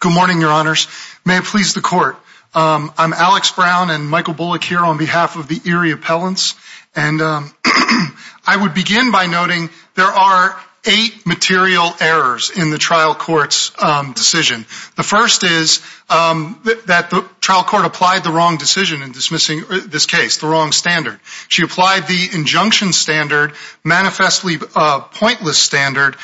Good morning, your honors. May it please the court. I'm Alex Brown and Michael Bullock here on behalf of the Erie Appellants. And I would begin by noting there are eight material errors in the trial court's decision. The first is that the trial court applied the wrong decision in dismissing this case, the wrong standard. She applied the injunction standard, manifestly pointless standard,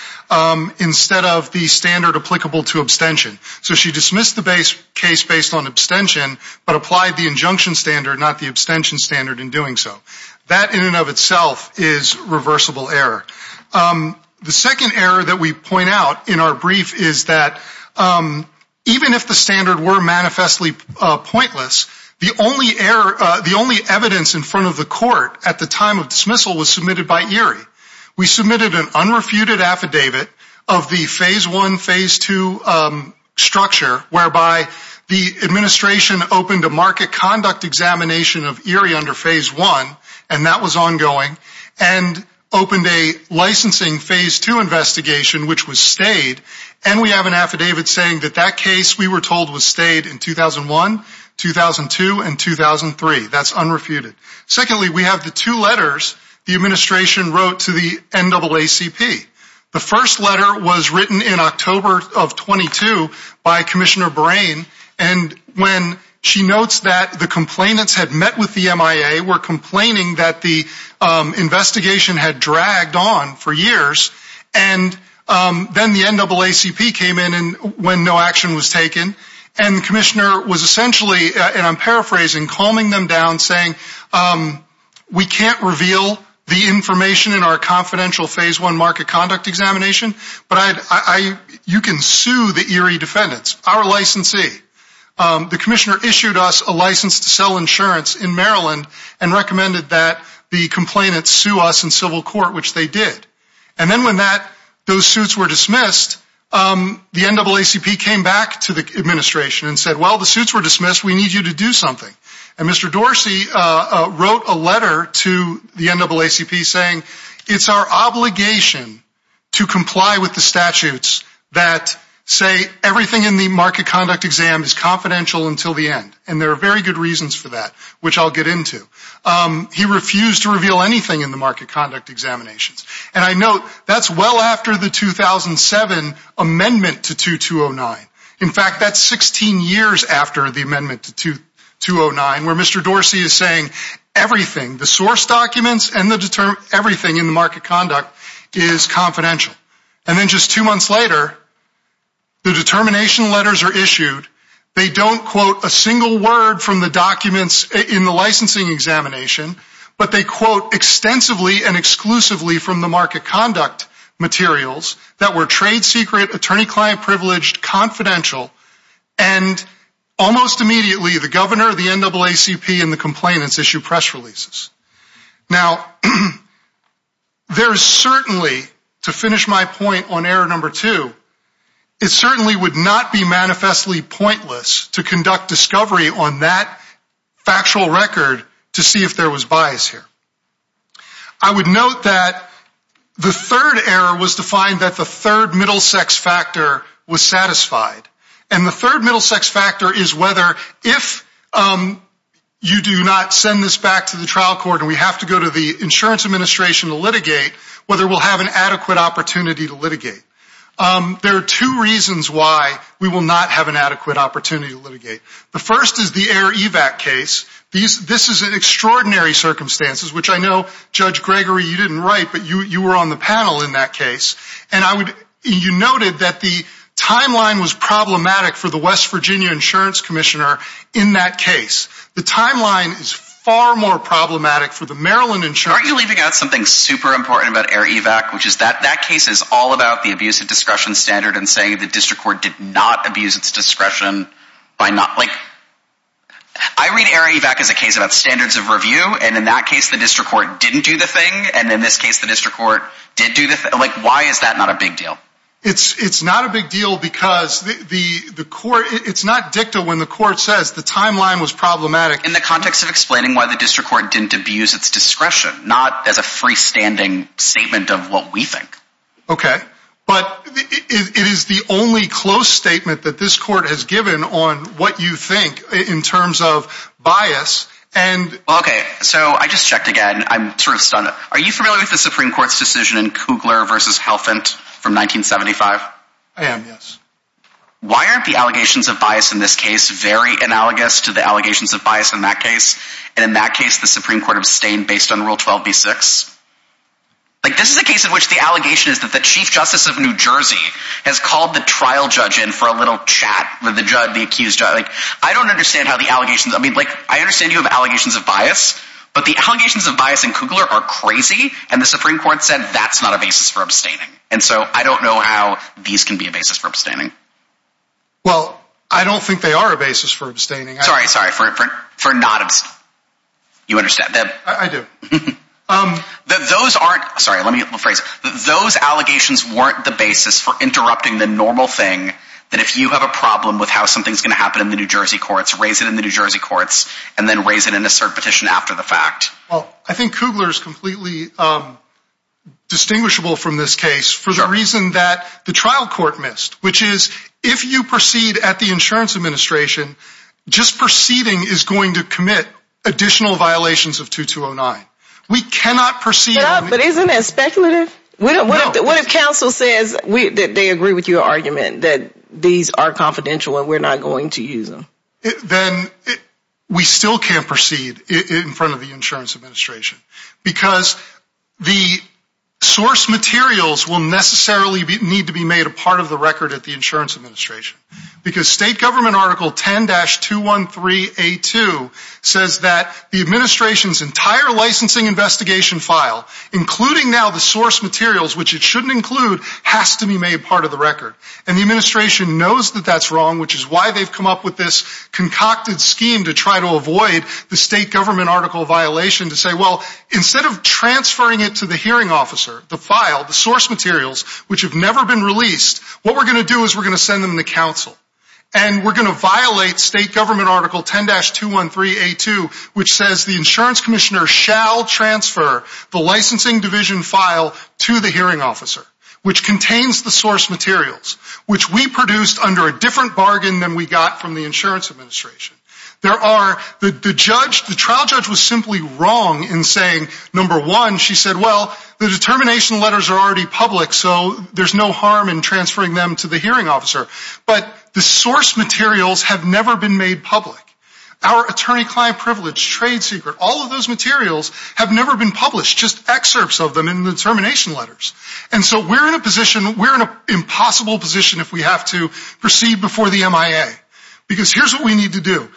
instead of the standard applicable to abstention. So she dismissed the case based on abstention, but applied the injunction standard, not the abstention standard in doing so. That in and of itself is reversible error. The second error that we point out in our brief is that even if the standard were manifestly pointless, the only evidence in front of the court at the time of dismissal was submitted by Erie. We submitted an unrefuted affidavit of the Phase I, Phase II structure, whereby the administration opened a market conduct examination of Erie under Phase I, and that was ongoing, and opened a licensing Phase II investigation, which was stayed. And we have an affidavit saying that that case, we were told, was stayed in 2001, 2002, and 2003. That's unrefuted. Secondly, we have the two letters the administration wrote to the NAACP. The first letter was written in October of 22 by Commissioner Brain, and when she notes that the complainants had met with the MIA, were complaining that the investigation had dragged on for years, and then the NAACP came in when no action was taken. And the commissioner was essentially, and I'm paraphrasing, calming them down, saying we can't reveal the information in our confidential Phase I market conduct examination, but you can sue the Erie defendants, our licensee. The commissioner issued us a license to sell insurance in Maryland and recommended that the complainants sue us in civil court, which they did. And then when those suits were dismissed, the NAACP came back to the administration and said, well, the suits were dismissed. We need you to do something. And Mr. Dorsey wrote a letter to the NAACP saying it's our obligation to comply with the statutes that say everything in the market conduct exam is confidential until the end, and there are very good reasons for that, which I'll get into. He refused to reveal anything in the market conduct examinations. And I note that's well after the 2007 amendment to 2209. In fact, that's 16 years after the amendment to 2209, where Mr. Dorsey is saying everything, the source documents and everything in the market conduct is confidential. And then just two months later, the determination letters are issued. They don't quote a single word from the documents in the licensing examination, but they quote extensively and exclusively from the market conduct materials that were trade secret, attorney-client privileged, confidential. And almost immediately, the governor, the NAACP, and the complainants issue press releases. Now, there is certainly, to finish my point on error number two, it certainly would not be manifestly pointless to conduct discovery on that factual record to see if there was bias here. I would note that the third error was to find that the third middle sex factor was satisfied. And the third middle sex factor is whether if you do not send this back to the trial court and we have to go to the insurance administration to litigate, whether we'll have an adequate opportunity to litigate. There are two reasons why we will not have an adequate opportunity to litigate. The first is the air EVAC case. This is in extraordinary circumstances, which I know, Judge Gregory, you didn't write, but you were on the panel in that case. You noted that the timeline was problematic for the West Virginia insurance commissioner in that case. The timeline is far more problematic for the Maryland insurance commissioner. Aren't you leaving out something super important about air EVAC, which is that that case is all about the abuse of discretion standard and saying the district court did not abuse its discretion. I read air EVAC as a case about standards of review, and in that case the district court didn't do the thing, and in this case the district court did do the thing. Why is that not a big deal? It's not a big deal because it's not dicta when the court says the timeline was problematic. In the context of explaining why the district court didn't abuse its discretion, not as a freestanding statement of what we think. Okay, but it is the only close statement that this court has given on what you think in terms of bias. Okay, so I just checked again. I'm sort of stunned. Are you familiar with the Supreme Court's decision in Kugler v. Helfand from 1975? I am, yes. Why aren't the allegations of bias in this case very analogous to the allegations of bias in that case, and in that case the Supreme Court abstained based on Rule 12b-6? This is a case in which the allegation is that the Chief Justice of New Jersey has called the trial judge in for a little chat with the accused judge. I don't understand how the allegations... I mean, I understand you have allegations of bias, but the allegations of bias in Kugler are crazy, and the Supreme Court said that's not a basis for abstaining. And so I don't know how these can be a basis for abstaining. Well, I don't think they are a basis for abstaining. Sorry, sorry, for not abstaining. You understand. I do. Those aren't... Sorry, let me get a little phrase. Those allegations weren't the basis for interrupting the normal thing that if you have a problem with how something's going to happen in the New Jersey courts, raise it in the New Jersey courts, and then raise it in a cert petition after the fact. Well, I think Kugler is completely distinguishable from this case for the reason that the trial court missed, which is if you proceed at the Insurance Administration, just proceeding is going to commit additional violations of 2209. We cannot proceed... But isn't that speculative? No. What if counsel says that they agree with your argument, that these are confidential and we're not going to use them? Then we still can't proceed in front of the Insurance Administration because the source materials will necessarily need to be made a part of the record at the Insurance Administration because state government article 10-213A2 says that the administration's entire licensing investigation file, including now the source materials, which it shouldn't include, has to be made part of the record. And the administration knows that that's wrong, which is why they've come up with this concocted scheme to try to avoid the state government article violation to say, well, instead of transferring it to the hearing officer, the file, the source materials, which have never been released, what we're going to do is we're going to send them to counsel. And we're going to violate state government article 10-213A2, which says the insurance commissioner shall transfer the licensing division file to the hearing officer, which contains the source materials, which we produced under a different bargain than we got from the Insurance Administration. The trial judge was simply wrong in saying, number one, she said, well, the determination letters are already public, so there's no harm in transferring them to the hearing officer. But the source materials have never been made public. Our attorney-client privilege, trade secret, all of those materials have never been published, just excerpts of them in the determination letters. And so we're in a position, we're in an impossible position if we have to proceed before the MIA. Because here's what we need to do.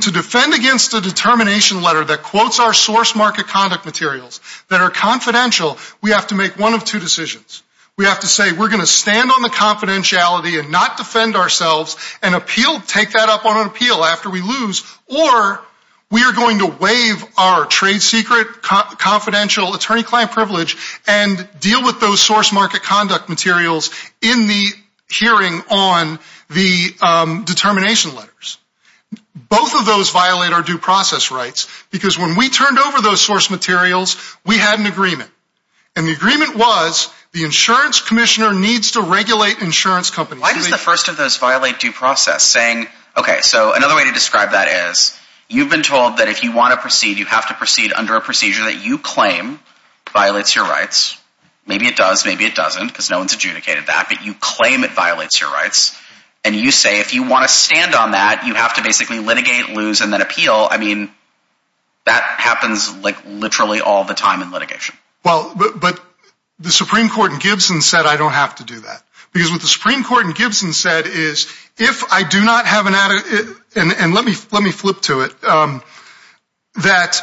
To defend against a determination letter that quotes our source market conduct materials that are confidential, we have to make one of two decisions. We have to say we're going to stand on the confidentiality and not defend ourselves and appeal, take that up on an appeal after we lose, or we are going to waive our trade secret, confidential attorney-client privilege and deal with those source market conduct materials in the hearing on the determination letters. Both of those violate our due process rights, because when we turned over those source materials, we had an agreement. And the agreement was the insurance commissioner needs to regulate insurance companies. Why does the first of those violate due process, saying, okay, so another way to describe that is you've been told that if you want to proceed, you have to proceed under a procedure that you claim violates your rights. Maybe it does, maybe it doesn't, because no one's adjudicated that, but you claim it violates your rights. And you say if you want to stand on that, you have to basically litigate, lose, and then appeal. I mean, that happens like literally all the time in litigation. Well, but the Supreme Court in Gibson said I don't have to do that. Because what the Supreme Court in Gibson said is, if I do not have an, and let me flip to it, that,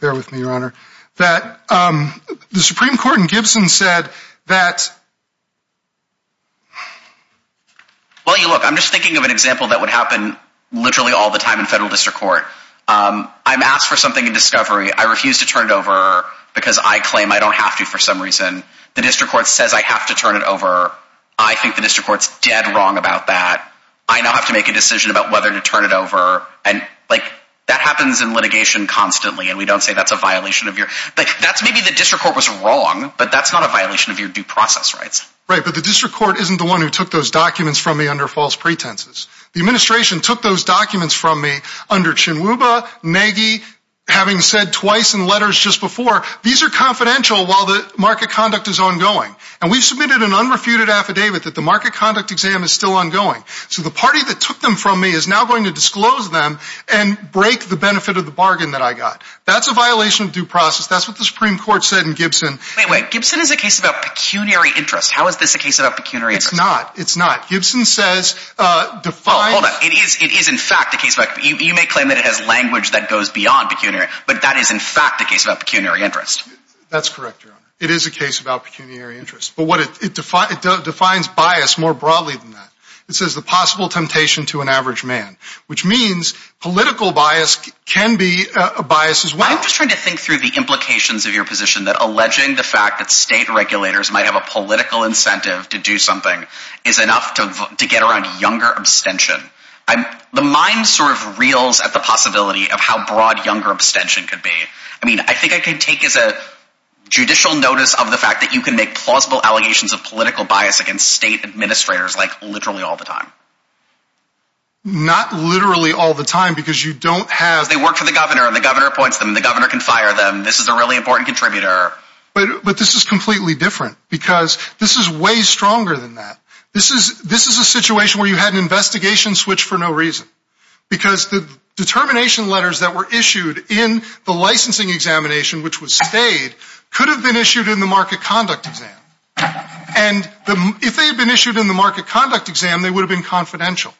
bear with me, Your Honor, that the Supreme Court in Gibson said that. Well, look, I'm just thinking of an example that would happen literally all the time in federal district court. I'm asked for something in discovery. I refuse to turn it over because I claim I don't have to for some reason. The district court says I have to turn it over. I think the district court's dead wrong about that. I now have to make a decision about whether to turn it over. And, like, that happens in litigation constantly, and we don't say that's a violation of your, like, that's maybe the district court was wrong, but that's not a violation of your due process rights. Right, but the district court isn't the one who took those documents from me under false pretenses. The administration took those documents from me under Chinwuba, Maggie, having said twice in letters just before, these are confidential while the market conduct is ongoing. And we submitted an unrefuted affidavit that the market conduct exam is still ongoing. So the party that took them from me is now going to disclose them and break the benefit of the bargain that I got. That's a violation of due process. That's what the Supreme Court said in Gibson. Wait, wait. Gibson is a case about pecuniary interest. How is this a case about pecuniary interest? It's not. It's not. Gibson says define. Hold on. It is in fact a case about, you may claim that it has language that goes beyond pecuniary, but that is in fact a case about pecuniary interest. That's correct, Your Honor. It is a case about pecuniary interest. But it defines bias more broadly than that. It says the possible temptation to an average man, which means political bias can be a bias as well. I'm just trying to think through the implications of your position that alleging the fact that state regulators might have a political incentive to do something is enough to get around younger abstention. The mind sort of reels at the possibility of how broad younger abstention could be. I mean, I think I could take as a judicial notice of the fact that you can make plausible allegations of political bias against state administrators like literally all the time. Not literally all the time because you don't have... They work for the governor and the governor appoints them and the governor can fire them. This is a really important contributor. But this is completely different because this is way stronger than that. This is a situation where you had an investigation switch for no reason because the determination letters that were issued in the licensing examination, which was stayed, could have been issued in the market conduct exam. And if they had been issued in the market conduct exam, they would have been confidential.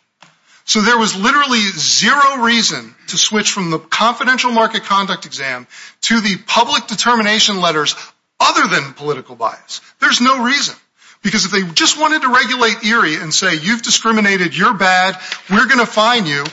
So there was literally zero reason to switch from the confidential market conduct exam to the public determination letters other than political bias. There's no reason. Because if they just wanted to regulate Erie and say you've discriminated, you're bad, we're going to fine you,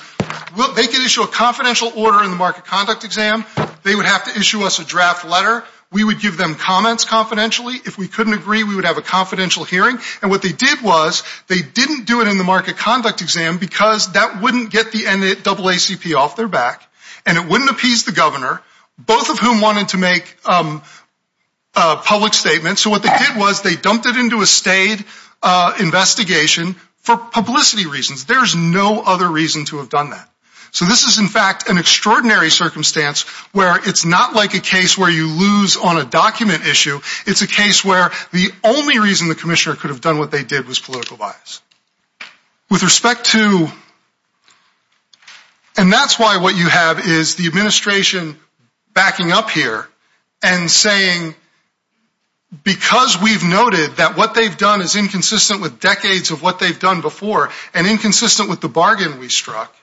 they could issue a confidential order in the market conduct exam. They would have to issue us a draft letter. We would give them comments confidentially. If we couldn't agree, we would have a confidential hearing. And what they did was they didn't do it in the market conduct exam because that wouldn't get the NAACP off their back and it wouldn't appease the governor, both of whom wanted to make public statements. So what they did was they dumped it into a stayed investigation for publicity reasons. There's no other reason to have done that. So this is, in fact, an extraordinary circumstance where it's not like a case where you lose on a document issue. It's a case where the only reason the commissioner could have done what they did was political bias. With respect to, and that's why what you have is the administration backing up here and saying because we've noted that what they've done is inconsistent with decades of what they've done before and inconsistent with the bargain we struck,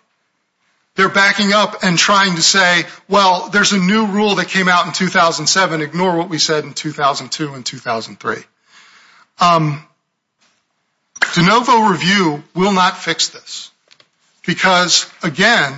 they're backing up and trying to say, well, there's a new rule that came out in 2007. Ignore what we said in 2002 and 2003. De Novo Review will not fix this because, again,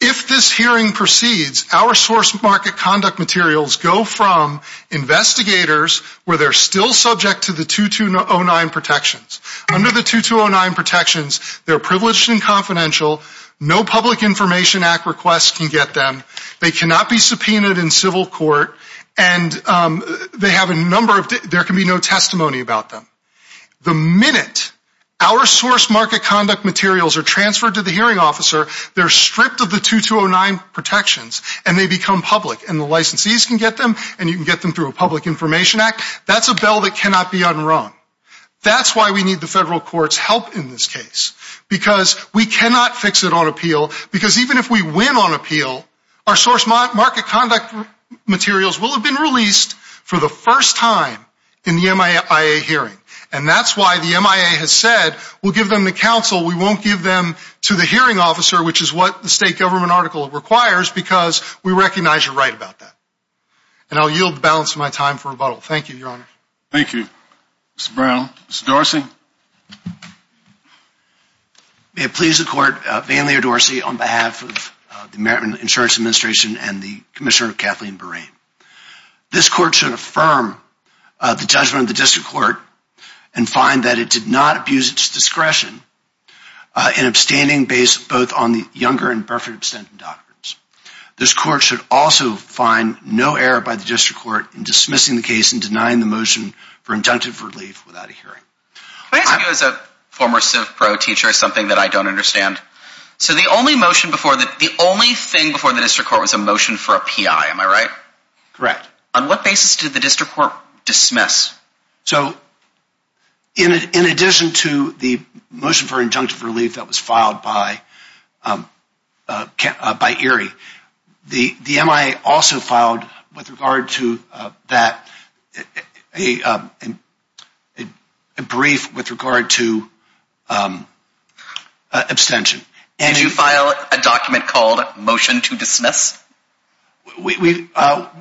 if this hearing proceeds, our source market conduct materials go from investigators where they're still subject to the 2209 protections. Under the 2209 protections, they're privileged and confidential. No public information act request can get them. They cannot be subpoenaed in civil court, and they have a number of ‑‑ there can be no testimony about them. The minute our source market conduct materials are transferred to the hearing officer, they're stripped of the 2209 protections, and they become public, and the licensees can get them, and you can get them through a public information act. That's a bill that cannot be unwronged. That's why we need the federal court's help in this case because we cannot fix it on appeal because even if we win on appeal, our source market conduct materials will have been released for the first time in the MIA hearing, and that's why the MIA has said we'll give them to counsel. We won't give them to the hearing officer, which is what the state government article requires because we recognize you're right about that, and I'll yield the balance of my time for rebuttal. Thank you, Your Honor. Thank you, Mr. Brown. Mr. Dorsey? May it please the court, Van Lear Dorsey, on behalf of the American Insurance Administration and the commissioner Kathleen Burrain. This court should affirm the judgment of the district court and find that it did not abuse its discretion in abstaining based both on the younger and birthright abstentions documents. This court should also find no error by the district court in dismissing the case and denying the motion for injunctive relief without a hearing. May I ask you as a former civ pro teacher something that I don't understand? So the only motion before the district court was a motion for a PI, am I right? Correct. On what basis did the district court dismiss? So in addition to the motion for injunctive relief that was filed by Erie, the MIA also filed a brief with regard to abstention. Did you file a document called motion to dismiss? We filed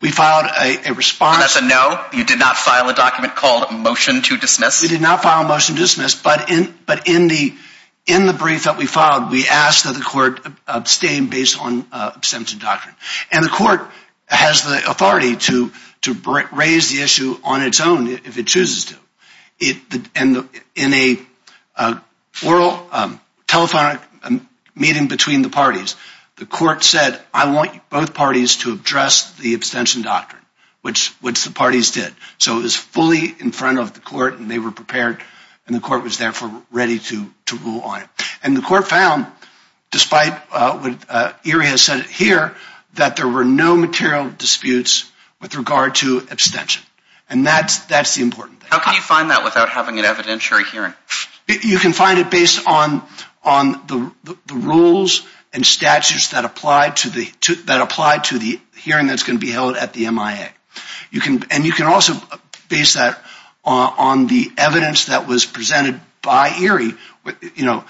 a response. And that's a no? You did not file a document called motion to dismiss? We did not file a motion to dismiss, but in the brief that we filed, we asked that the court abstain based on abstention doctrine. And the court has the authority to raise the issue on its own if it chooses to. In an oral telephonic meeting between the parties, the court said, I want both parties to address the abstention doctrine, which the parties did. So it was fully in front of the court and they were prepared and the court was therefore ready to rule on it. And the court found, despite what Erie has said here, that there were no material disputes with regard to abstention. And that's the important thing. How can you find that without having an evidentiary hearing? You can find it based on the rules and statutes that apply to the hearing that's going to be held at the MIA. And you can also base that on the evidence that was presented by Erie, You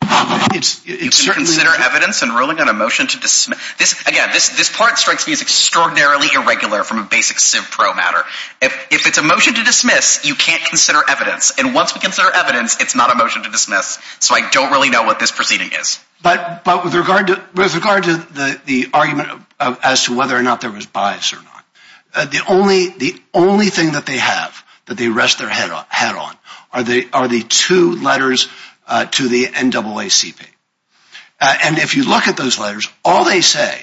can consider evidence in ruling on a motion to dismiss. Again, this part strikes me as extraordinarily irregular from a basic CIVPRO matter. If it's a motion to dismiss, you can't consider evidence. And once we consider evidence, it's not a motion to dismiss. So I don't really know what this proceeding is. But with regard to the argument as to whether or not there was bias or not, the only thing that they have that they rest their head on are the two letters to the NAACP. And if you look at those letters, all they say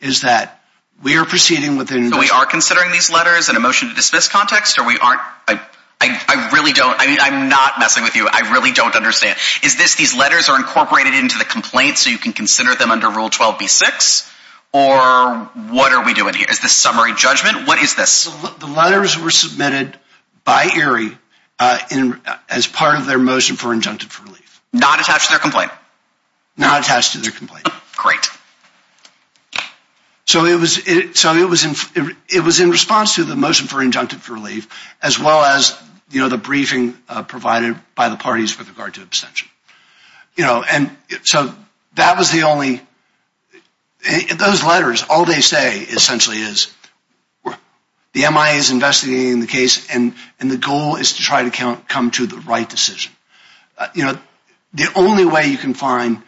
is that we are proceeding within So we are considering these letters in a motion to dismiss context? I really don't. I'm not messing with you. I really don't understand. Is this these letters are incorporated into the complaint so you can consider them under Rule 12b-6? Or what are we doing here? Is this summary judgment? What is this? The letters were submitted by Erie as part of their motion for injunctive relief. Not attached to their complaint? Not attached to their complaint. Great. So it was in response to the motion for injunctive relief as well as the briefing provided by the parties with regard to abstention. So that was the only... Those letters, all they say essentially is the MIA is investigating the case and the goal is to try to come to the right decision. The only way you can find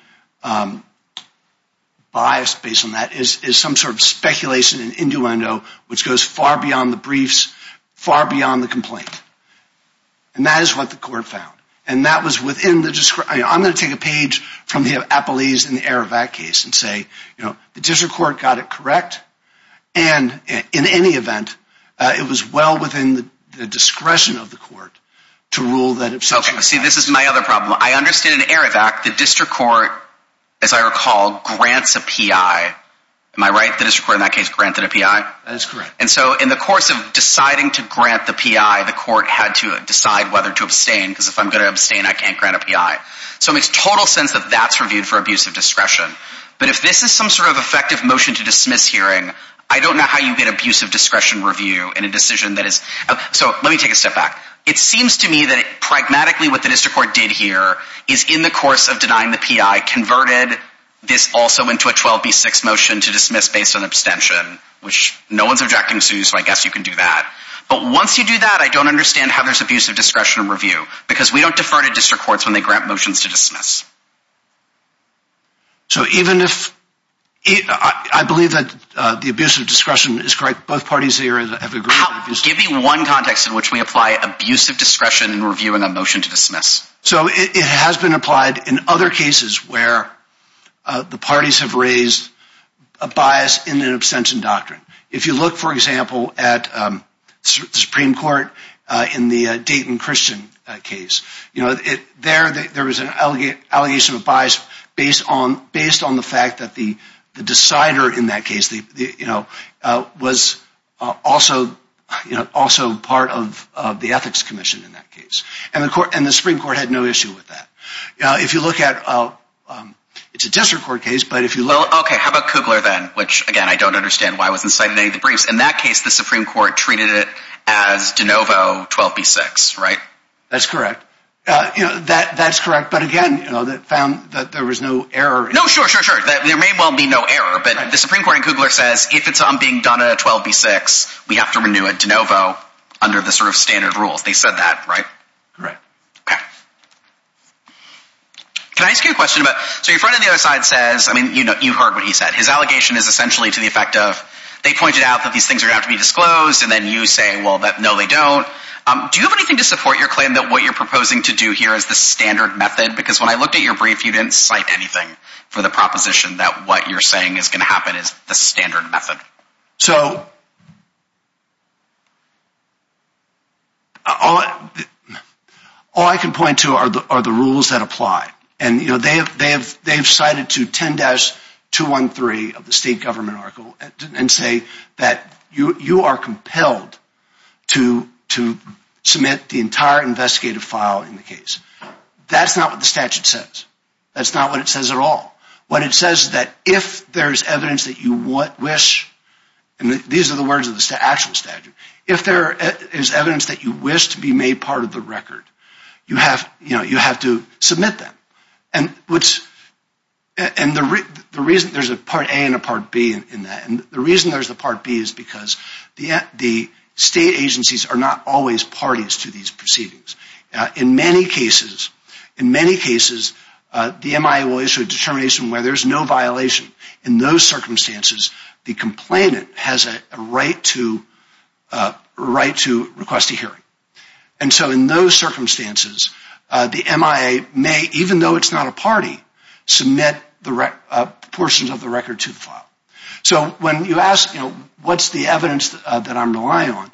bias based on that is some sort of speculation and innuendo which goes far beyond the briefs, far beyond the complaint. And that is what the court found. And that was within the discretion... I'm going to take a page from the Appellee's in the Aravac case and say the district court got it correct and in any event it was well within the discretion of the court to rule that... See, this is my other problem. I understand in Aravac the district court, as I recall, grants a PI. Am I right? The district court in that case granted a PI? That is correct. And so in the course of deciding to grant the PI, the court had to decide whether to abstain because if I'm going to abstain, I can't grant a PI. So it makes total sense that that's reviewed for abuse of discretion. But if this is some sort of effective motion to dismiss hearing, I don't know how you get abuse of discretion review in a decision that is... So let me take a step back. It seems to me that pragmatically what the district court did here is in the course of denying the PI, converted this also into a 12b6 motion to dismiss based on abstention, which no one's objecting to, so I guess you can do that. But once you do that, I don't understand how there's abuse of discretion review because we don't defer to district courts when they grant motions to dismiss. So even if... I believe that the abuse of discretion is correct. Both parties here have agreed... Give me one context in which we apply abuse of discretion in reviewing a motion to dismiss. So it has been applied in other cases where the parties have raised a bias in an abstention doctrine. If you look, for example, at the Supreme Court in the Dayton Christian case, there was an allegation of bias based on the fact that the decider in that case was also part of the ethics commission in that case. And the Supreme Court had no issue with that. If you look at... It's a district court case, but if you look... Okay, how about Kugler then, which, again, I don't understand why it wasn't cited in any of the briefs. In that case, the Supreme Court treated it as de novo 12b-6, right? That's correct. That's correct, but again, they found that there was no error... No, sure, sure, sure. There may well be no error, but the Supreme Court in Kugler says, if it's being done in a 12b-6, we have to renew it de novo under the sort of standard rules. They said that, right? Correct. Okay. Can I ask you a question about... So your friend on the other side says... I mean, you heard what he said. His allegation is essentially to the effect of, they pointed out that these things are going to have to be disclosed, and then you say, well, no, they don't. Do you have anything to support your claim that what you're proposing to do here is the standard method? Because when I looked at your brief, you didn't cite anything for the proposition that what you're saying is going to happen is the standard method. So... All I can point to are the rules that apply. And, you know, they've cited to 10-213 of the state government article and say that you are compelled to submit the entire investigative file in the case. That's not what the statute says. That's not what it says at all. What it says is that if there's evidence that you wish, and these are the words of the actual statute, if there is evidence that you wish to be made part of the record, you have to submit that. And the reason there's a Part A and a Part B in that, and the reason there's a Part B is because the state agencies are not always parties to these proceedings. In many cases, in many cases, the MIA will issue a determination where there's no violation. In those circumstances, the complainant has a right to request a hearing. And so in those circumstances, the MIA may, even though it's not a party, submit portions of the record to the file. So when you ask, you know, what's the evidence that I'm relying on,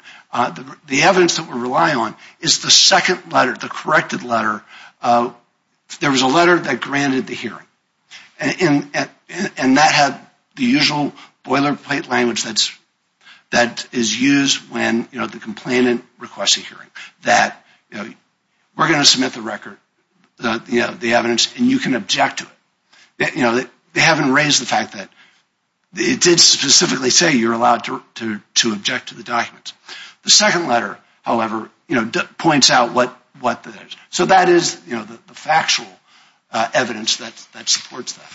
the evidence that we're relying on is the second letter, the corrected letter. There was a letter that granted the hearing. And that had the usual boilerplate language that is used when the complainant requests a hearing, that we're going to submit the record, the evidence, and you can object to it. They haven't raised the fact that it did specifically say you're allowed to object to the documents. The second letter, however, points out what that is. So that is the factual evidence that supports that.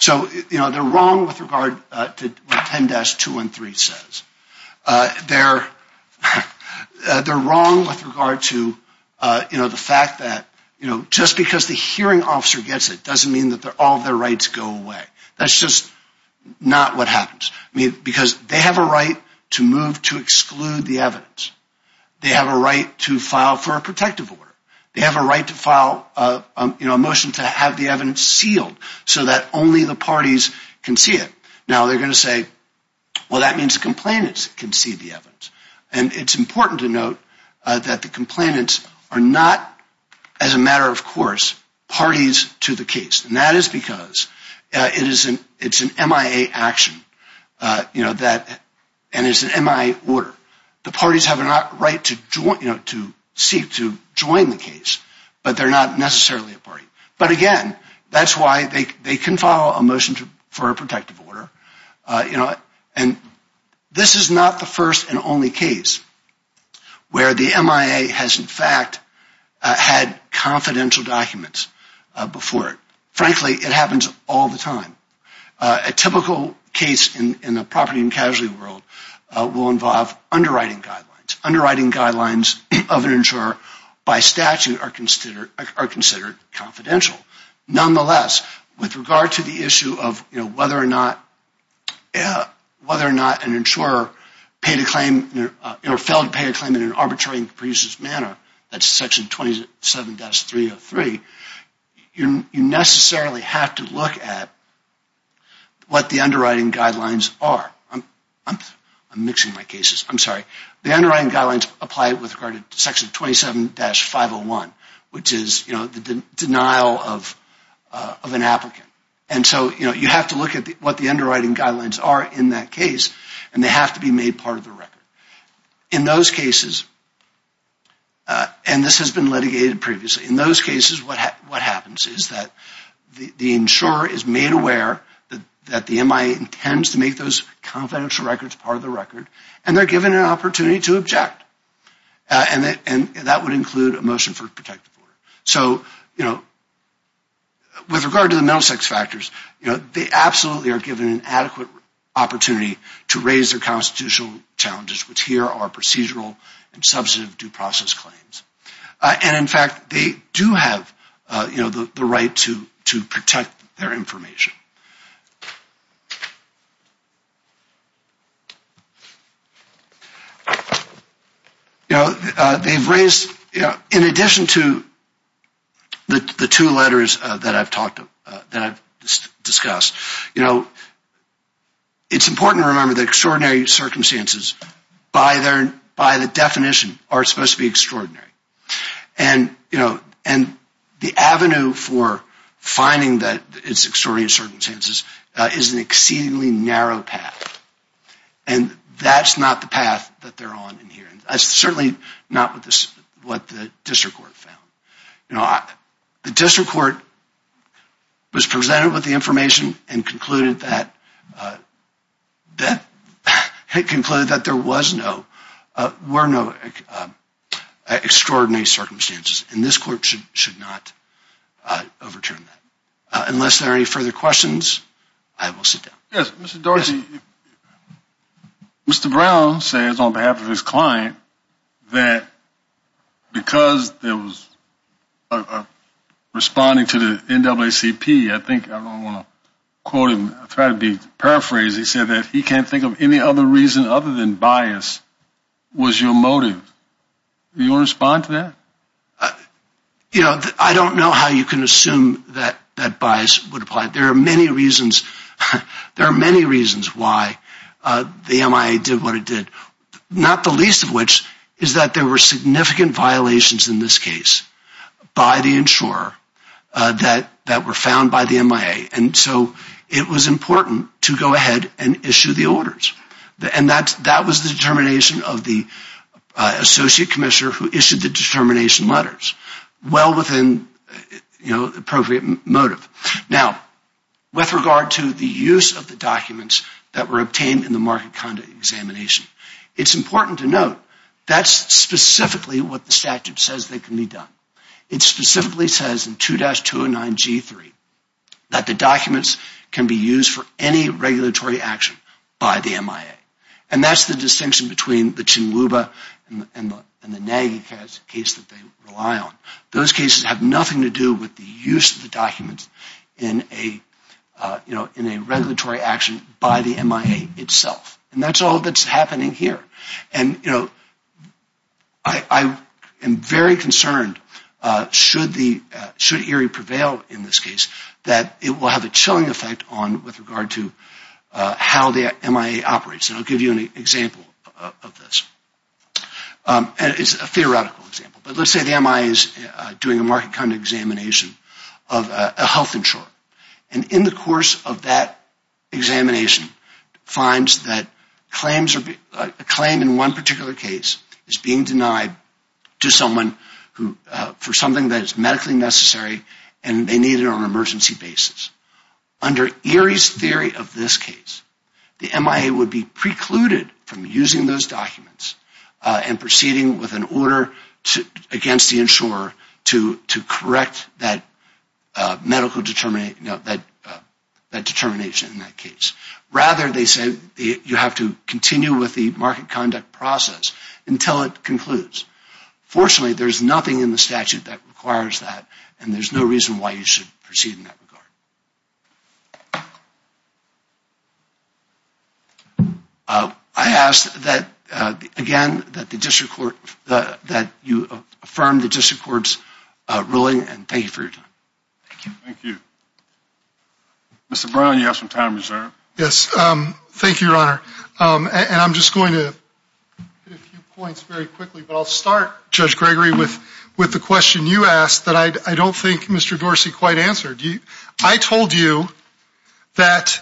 So, you know, they're wrong with regard to what 10-213 says. They're wrong with regard to, you know, the fact that, you know, just because the hearing officer gets it doesn't mean that all their rights go away. That's just not what happens. I mean, because they have a right to move to exclude the evidence. They have a right to file for a protective order. They have a right to file, you know, a motion to have the evidence sealed so that only the parties can see it. Now, they're going to say, well, that means the complainants can see the evidence. And it's important to note that the complainants are not, as a matter of course, parties to the case. And that is because it's an MIA action, you know, and it's an MIA order. The parties have a right to seek to join the case, but they're not necessarily a party. But again, that's why they can file a motion for a protective order. You know, and this is not the first and only case where the MIA has, in fact, had confidential documents before it. Frankly, it happens all the time. A typical case in the property and casualty world will involve underwriting guidelines. Underwriting guidelines of an insurer by statute are considered confidential. Nonetheless, with regard to the issue of, you know, whether or not an insurer failed to pay a claim in an arbitrary and capricious manner, that's Section 27-303, you necessarily have to look at what the underwriting guidelines are. I'm mixing my cases. I'm sorry. The underwriting guidelines apply with regard to Section 27-501, which is, you know, the denial of an applicant. And so, you know, you have to look at what the underwriting guidelines are in that case, and they have to be made part of the record. In those cases, and this has been litigated previously, in those cases, what happens is that the insurer is made aware that the MIA intends to make those confidential records part of the record, and they're given an opportunity to object. And that would include a motion for protective order. So, you know, with regard to the mental sex factors, you know, they absolutely are given an adequate opportunity to raise their constitutional challenges, which here are procedural and substantive due process claims. And in fact, they do have, you know, the right to protect their information. You know, they've raised, you know, in addition to the two letters that I've discussed, you know, it's important to remember that extraordinary circumstances, by the definition, are supposed to be extraordinary. And, you know, and the avenue for finding that it's extraordinary circumstances is an exceedingly narrow path. And that's not the path that they're on in here. That's certainly not what the district court found. You know, the district court was presented with the information and concluded that there were no extraordinary circumstances. And this court should not overturn that. Unless there are any further questions, I will sit down. Yes, Mr. Dorsey. Mr. Brown says on behalf of his client that because there was a responding to the NAACP, I think I want to quote him, try to paraphrase, he said that he can't think of any other reason other than bias was your motive. Do you want to respond to that? You know, I don't know how you can assume that bias would apply. There are many reasons why the MIA did what it did, not the least of which is that there were significant violations in this case by the insurer that were found by the MIA. And so it was important to go ahead and issue the orders. And that was the determination of the associate commissioner who issued the determination letters, well within, you know, the appropriate motive. Now, with regard to the use of the documents that were obtained in the market conduct examination, it's important to note that's specifically what the statute says that can be done. It specifically says in 2-209G3 that the documents can be used for any regulatory action by the MIA. And that's the distinction between the Chinluba and the Nagy case that they rely on. Those cases have nothing to do with the use of the documents in a regulatory action by the MIA itself. And that's all that's happening here. And, you know, I am very concerned should ERI prevail in this case that it will have a chilling effect on with regard to how the MIA operates. And I'll give you an example of this. And it's a theoretical example. But let's say the MIA is doing a market conduct examination of a health insurer. And in the course of that examination, finds that a claim in one particular case is being denied to someone for something that is medically necessary and they need it on an emergency basis. Under ERI's theory of this case, the MIA would be precluded from using those documents and proceeding with an order against the insurer to correct that medical determination in that case. Rather, they say you have to continue with the market conduct process until it concludes. Fortunately, there's nothing in the statute that requires that and there's no reason why you should proceed in that regard. I ask that, again, that you affirm the district court's ruling and thank you for your time. Thank you. Mr. Brown, you have some time reserved. Yes. Thank you, Your Honor. And I'm just going to hit a few points very quickly. But I'll start, Judge Gregory, with the question you asked that I don't think Mr. Dorsey quite answered. I told you that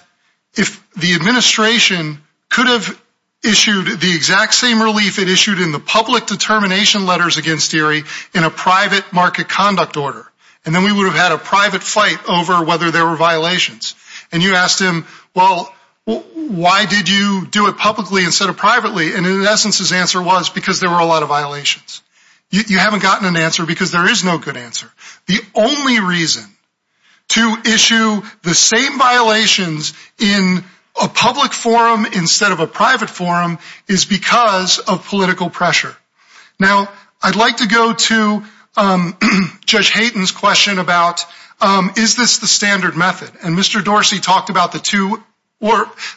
if the administration could have issued the exact same relief it issued in the public determination letters against ERI in a private market conduct order, and then we would have had a private fight over whether there were violations. And you asked him, well, why did you do it publicly instead of privately? And in essence, his answer was because there were a lot of violations. You haven't gotten an answer because there is no good answer. The only reason to issue the same violations in a public forum instead of a private forum is because of political pressure. Now, I'd like to go to Judge Hayden's question about, is this the standard method? And Mr. Dorsey talked about the two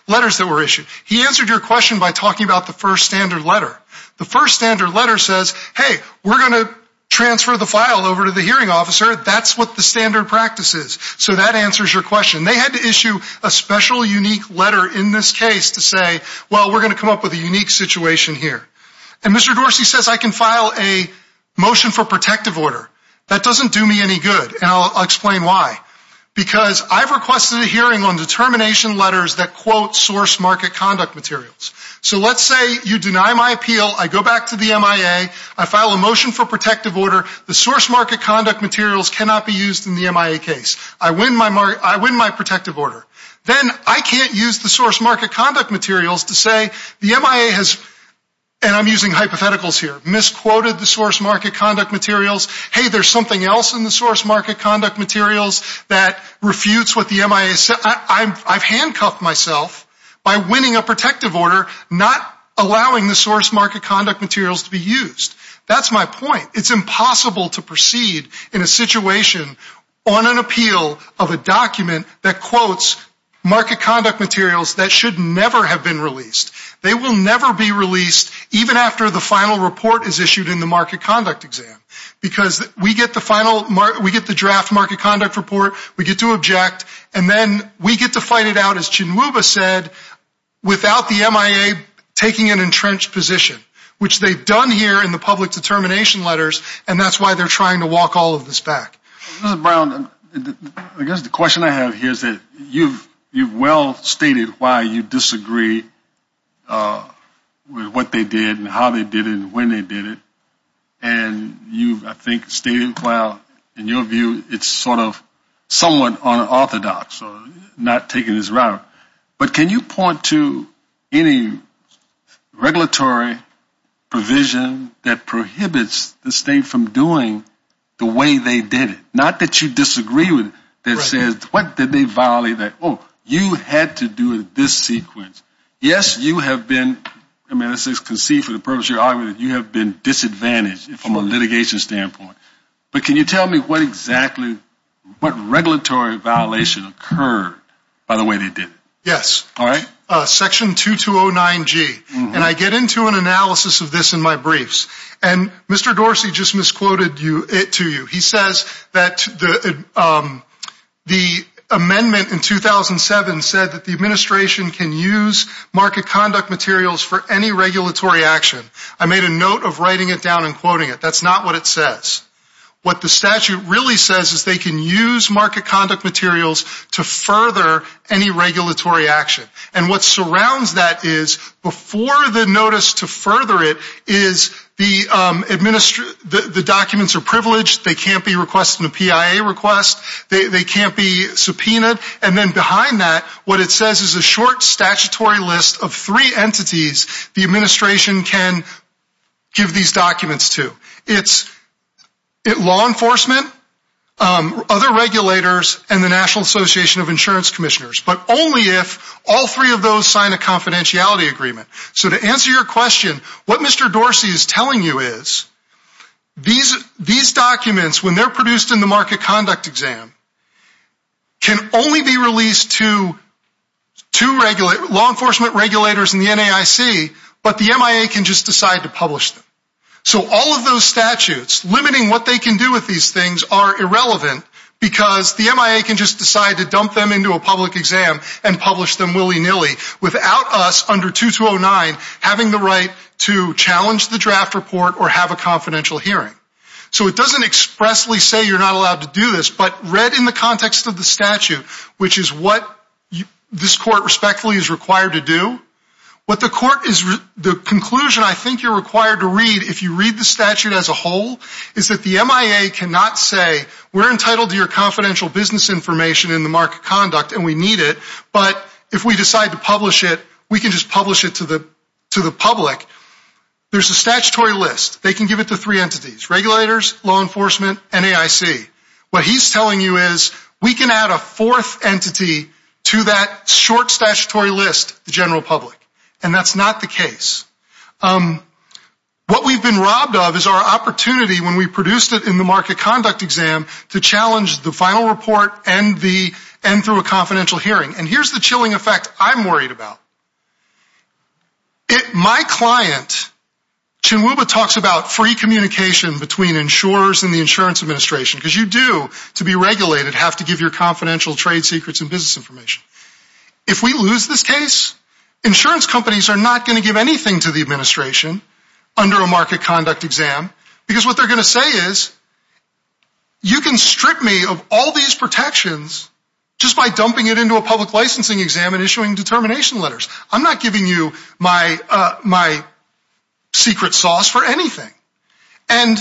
letters that were issued. He answered your question by talking about the first standard letter. The first standard letter says, hey, we're going to transfer the file over to the hearing officer. That's what the standard practice is. So that answers your question. They had to issue a special unique letter in this case to say, well, we're going to come up with a unique situation here. And Mr. Dorsey says I can file a motion for protective order. That doesn't do me any good, and I'll explain why. Because I've requested a hearing on determination letters that quote source market conduct materials. So let's say you deny my appeal. I go back to the MIA. I file a motion for protective order. The source market conduct materials cannot be used in the MIA case. I win my protective order. Then I can't use the source market conduct materials to say the MIA has, and I'm using hypotheticals here, misquoted the source market conduct materials. Hey, there's something else in the source market conduct materials that refutes what the MIA said. I've handcuffed myself by winning a protective order, not allowing the source market conduct materials to be used. That's my point. It's impossible to proceed in a situation on an appeal of a document that quotes market conduct materials that should never have been released. They will never be released, even after the final report is issued in the market conduct exam. Because we get the draft market conduct report, we get to object, and then we get to fight it out, as Chinwuba said, without the MIA taking an entrenched position, which they've done here in the public determination letters, and that's why they're trying to walk all of this back. Mr. Brown, I guess the question I have here is that you've well stated why you disagree with what they did and how they did it and when they did it, and you've, I think, stated, well, in your view, it's sort of somewhat unorthodox, not taking this route. But can you point to any regulatory provision that prohibits the state from doing the way they did it? Not that you disagree with it. What did they violate? Oh, you had to do this sequence. Yes, you have been, I mean, this is conceived for the purpose of your argument, you have been disadvantaged from a litigation standpoint. But can you tell me what exactly, what regulatory violation occurred by the way they did it? Yes. All right. Section 2209G, and I get into an analysis of this in my briefs, and Mr. Dorsey just misquoted it to you. He says that the amendment in 2007 said that the administration can use market conduct materials for any regulatory action. I made a note of writing it down and quoting it. That's not what it says. What the statute really says is they can use market conduct materials to further any regulatory action. And what surrounds that is, before the notice to further it, is the documents are privileged. They can't be requested in a PIA request. They can't be subpoenaed. And then behind that, what it says is a short statutory list of three entities the administration can give these documents to. It's law enforcement, other regulators, and the National Association of Insurance Commissioners, but only if all three of those sign a confidentiality agreement. So to answer your question, what Mr. Dorsey is telling you is these documents, when they're produced in the market conduct exam, can only be released to law enforcement regulators and the NAIC, but the MIA can just decide to publish them. So all of those statutes limiting what they can do with these things are irrelevant because the MIA can just decide to dump them into a public exam and publish them willy-nilly without us under 2209 having the right to challenge the draft report or have a confidential hearing. So it doesn't expressly say you're not allowed to do this, but read in the context of the statute, which is what this court respectfully is required to do, the conclusion I think you're required to read if you read the statute as a whole is that the MIA cannot say we're entitled to your confidential business information in the market conduct and we need it, but if we decide to publish it we can just publish it to the public. There's a statutory list. They can give it to three entities, regulators, law enforcement, and NAIC. What he's telling you is we can add a fourth entity to that short statutory list, the general public, and that's not the case. What we've been robbed of is our opportunity when we produced it in the market conduct exam to challenge the final report and through a confidential hearing, and here's the chilling effect I'm worried about. My client, Chinwuba, talks about free communication between insurers and the insurance administration because you do, to be regulated, have to give your confidential trade secrets and business information. If we lose this case, insurance companies are not going to give anything to the administration under a market conduct exam because what they're going to say is you can strip me of all these protections just by dumping it into a public licensing exam and issuing determination letters. I'm not giving you my secret sauce for anything. And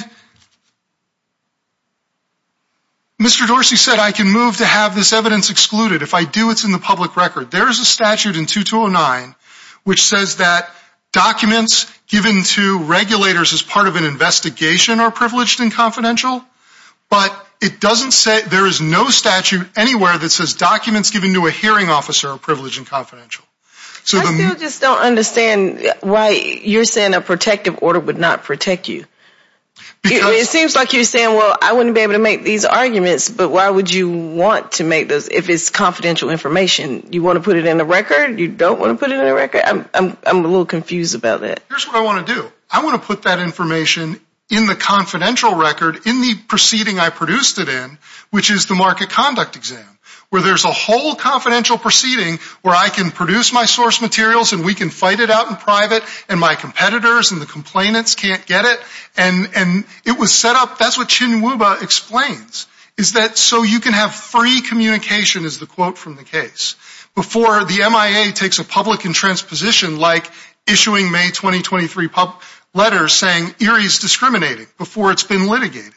Mr. Dorsey said I can move to have this evidence excluded. If I do, it's in the public record. There is a statute in 2209 which says that documents given to regulators as part of an investigation are privileged and confidential, but it doesn't say there is no statute anywhere that says documents given to a hearing officer are privileged and confidential. I still just don't understand why you're saying a protective order would not protect you. It seems like you're saying, well, I wouldn't be able to make these arguments, but why would you want to make those if it's confidential information? You want to put it in the record? You don't want to put it in the record? I'm a little confused about that. Here's what I want to do. I want to put that information in the confidential record in the proceeding I produced it in, which is the market conduct exam, where there's a whole confidential proceeding where I can produce my source materials and we can fight it out in private and my competitors and the complainants can't get it. And it was set up, that's what Chinwuba explains, is that so you can have free communication is the quote from the case before the MIA takes a public and transposition like issuing May 2023 letters saying ERIE is discriminating before it's been litigated.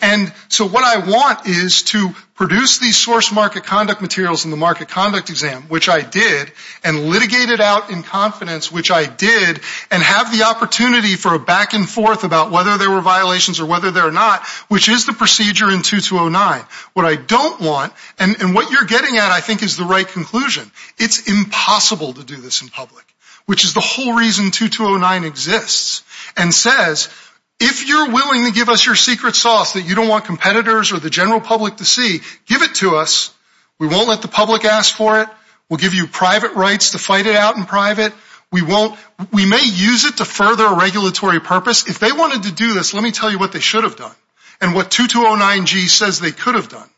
And so what I want is to produce these source market conduct materials in the market conduct exam, which I did, and litigate it out in confidence, which I did, and have the opportunity for a back and forth about whether there were violations or whether there are not, which is the procedure in 2209. What I don't want, and what you're getting at I think is the right conclusion, it's impossible to do this in public, which is the whole reason 2209 exists, and says if you're willing to give us your secret sauce that you don't want competitors or the general public to see, give it to us. We won't let the public ask for it. We'll give you private rights to fight it out in private. We may use it to further a regulatory purpose. If they wanted to do this, let me tell you what they should have done and what 2209G says they could have done.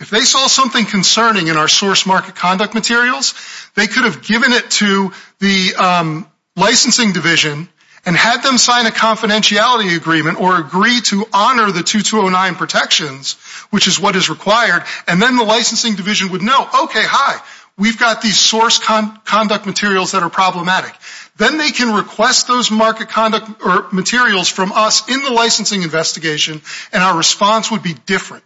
If they saw something concerning in our source market conduct materials, they could have given it to the licensing division and had them sign a confidentiality agreement or agree to honor the 2209 protections, which is what is required, and then the licensing division would know, okay, hi, we've got these source conduct materials that are problematic. Then they can request those market conduct materials from us in the licensing investigation, and our response would be different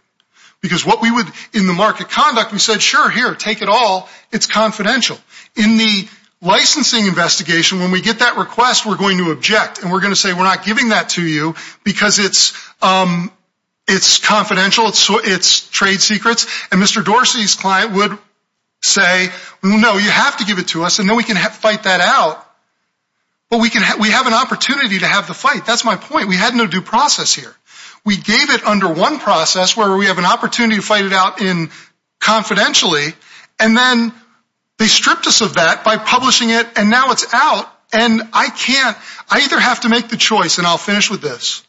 because what we would, in the market conduct, we said, sure, here, take it all. It's confidential. In the licensing investigation, when we get that request, we're going to object, and we're going to say we're not giving that to you because it's confidential, it's trade secrets, and Mr. Dorsey's client would say, no, you have to give it to us, and then we can fight that out. But we have an opportunity to have the fight. That's my point. We had no due process here. We gave it under one process where we have an opportunity to fight it out confidentially, and then they stripped us of that by publishing it, and now it's out, and I can't. I either have to make the choice, and I'll finish with this.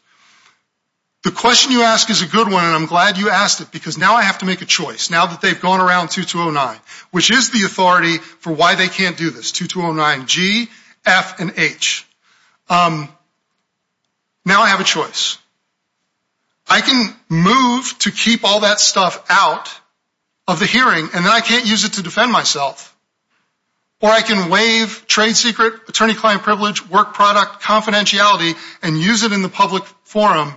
The question you ask is a good one, and I'm glad you asked it because now I have to make a choice, now that they've gone around 2209, which is the authority for why they can't do this, 2209 G, F, and H. Now I have a choice. I can move to keep all that stuff out of the hearing, and then I can't use it to defend myself. Or I can waive trade secret, attorney-client privilege, work product confidentiality, and use it in the public forum,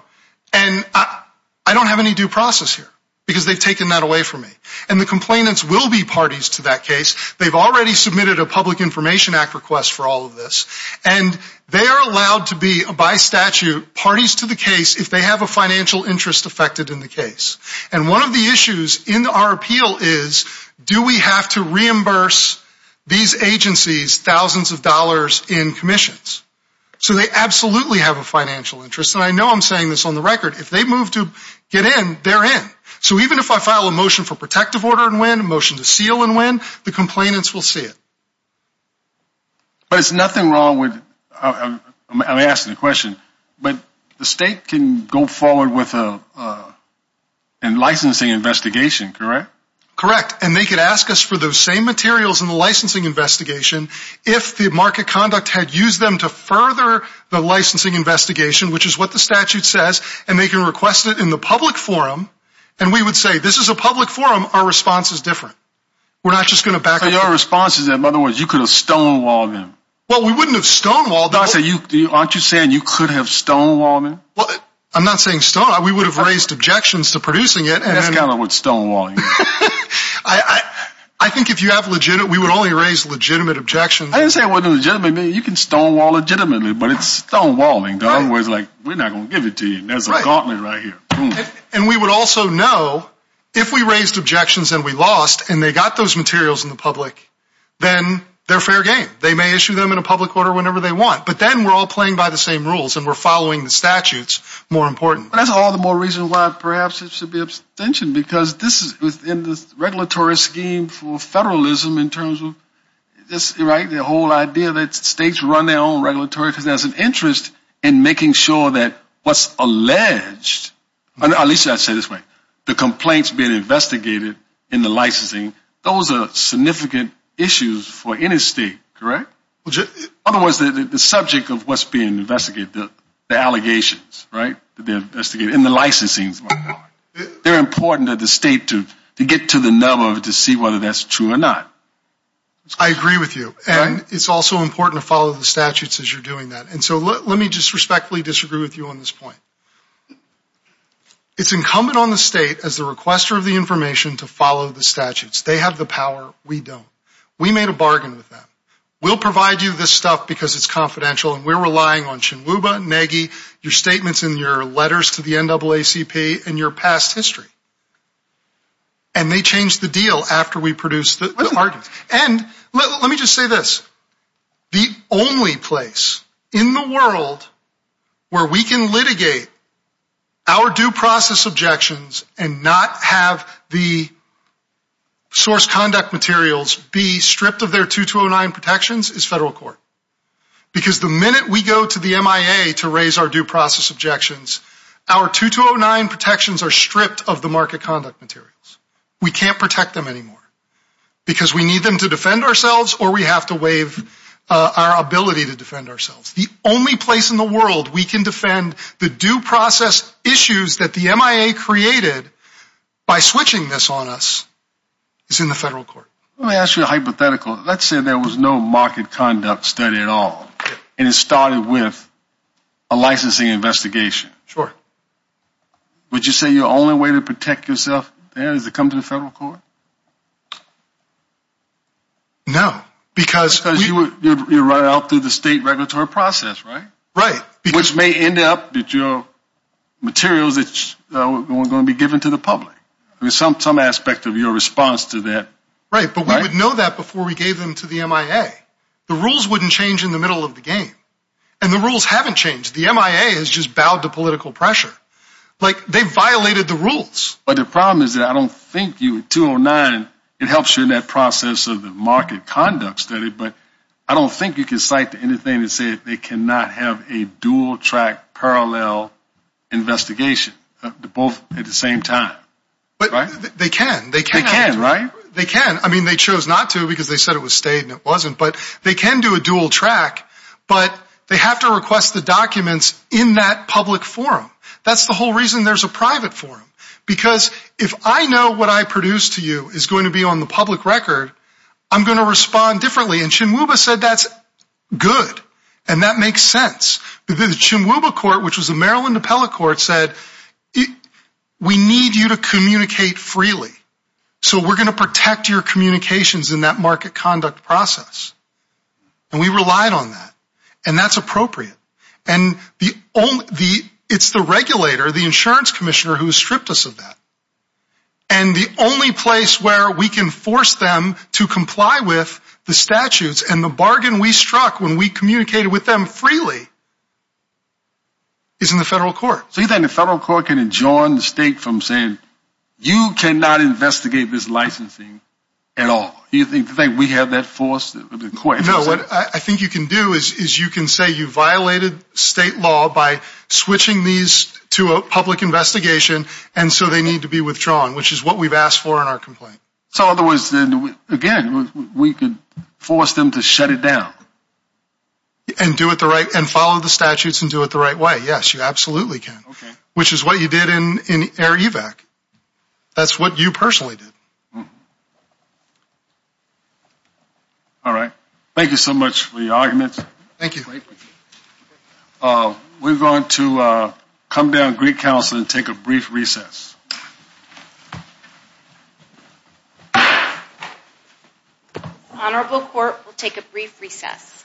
and I don't have any due process here because they've taken that away from me. And the complainants will be parties to that case. They've already submitted a Public Information Act request for all of this, and they are allowed to be, by statute, parties to the case if they have a financial interest affected in the case. And one of the issues in our appeal is, do we have to reimburse these agencies thousands of dollars in commissions? So they absolutely have a financial interest, and I know I'm saying this on the record. If they move to get in, they're in. So even if I file a motion for protective order and win, a motion to seal and win, the complainants will see it. But it's nothing wrong with, I'm asking the question, but the state can go forward with a licensing investigation, correct? Correct, and they could ask us for those same materials in the licensing investigation if the market conduct had used them to further the licensing investigation, which is what the statute says, and they can request it in the public forum, and we would say, this is a public forum, our response is different. So your response is that, in other words, you could have stonewalled them? Well, we wouldn't have stonewalled them. Aren't you saying you could have stonewalled them? I'm not saying stonewalled them. We would have raised objections to producing it. That's kind of what stonewalling is. I think if you have legitimate, we would only raise legitimate objections. I didn't say it wasn't legitimate. You can stonewall legitimately, but it's stonewalling. In other words, we're not going to give it to you. There's a gauntlet right here. And we would also know, if we raised objections and we lost, and they got those materials in the public, then they're fair game. They may issue them in a public order whenever they want, but then we're all playing by the same rules and we're following the statutes more important. That's all the more reason why perhaps it should be abstention, because this is within the regulatory scheme for federalism in terms of this, right, the whole idea that states run their own regulatory, because there's an interest in making sure that what's alleged, at least I say it this way, the complaints being investigated in the licensing, those are significant issues for any state, correct? In other words, the subject of what's being investigated, the allegations, right, to be investigated in the licensing. They're important to the state to get to the nub of it to see whether that's true or not. I agree with you, and it's also important to follow the statutes as you're doing that. And so let me just respectfully disagree with you on this point. It's incumbent on the state, as the requester of the information, to follow the statutes. They have the power. We don't. We made a bargain with them. We'll provide you this stuff because it's confidential, and we're relying on Chinwuba and Nagy, your statements and your letters to the NAACP, and your past history. And they changed the deal after we produced the arguments. And let me just say this. The only place in the world where we can litigate our due process objections and not have the source conduct materials be stripped of their 2209 protections is federal court. Because the minute we go to the MIA to raise our due process objections, our 2209 protections are stripped of the market conduct materials. We can't protect them anymore because we need them to defend ourselves or we have to waive our ability to defend ourselves. The only place in the world we can defend the due process issues that the MIA created by switching this on us is in the federal court. Let me ask you a hypothetical. Let's say there was no market conduct study at all, and it started with a licensing investigation. Sure. Would you say your only way to protect yourself there is to come to the federal court? No. Because you're running out through the state regulatory process, right? Right. Which may end up with your materials that are going to be given to the public. There's some aspect of your response to that. Right, but we would know that before we gave them to the MIA. The rules wouldn't change in the middle of the game. And the rules haven't changed. The MIA has just bowed to political pressure. Like, they violated the rules. But the problem is that I don't think you, 209, it helps you in that process of the market conduct study, but I don't think you can cite anything that said they cannot have a dual track parallel investigation, both at the same time. They can. They can, right? They can. I mean, they chose not to because they said it was state and it wasn't. But they can do a dual track, but they have to request the documents in that public forum. That's the whole reason there's a private forum. Because if I know what I produce to you is going to be on the public record, I'm going to respond differently. And Chinwuba said that's good. And that makes sense. The Chinwuba court, which was a Maryland appellate court, said, we need you to communicate freely. So we're going to protect your communications in that market conduct process. And we relied on that. And that's appropriate. And it's the regulator, the insurance commissioner, who stripped us of that. And the only place where we can force them to comply with the statutes and the bargain we struck when we communicated with them freely is in the federal court. So you think the federal court can enjoin the state from saying, you cannot investigate this licensing at all? Do you think we have that force of the court? No. What I think you can do is you can say you violated state law by switching these to a public investigation, and so they need to be withdrawn, which is what we've asked for in our complaint. So in other words, again, we could force them to shut it down. And do it the right way. And follow the statutes and do it the right way. Yes, you absolutely can, which is what you did in AIREVAC. That's what you personally did. All right. Thank you so much for your arguments. Thank you. We're going to come down to Greek Council and take a brief recess. Honorable Court will take a brief recess.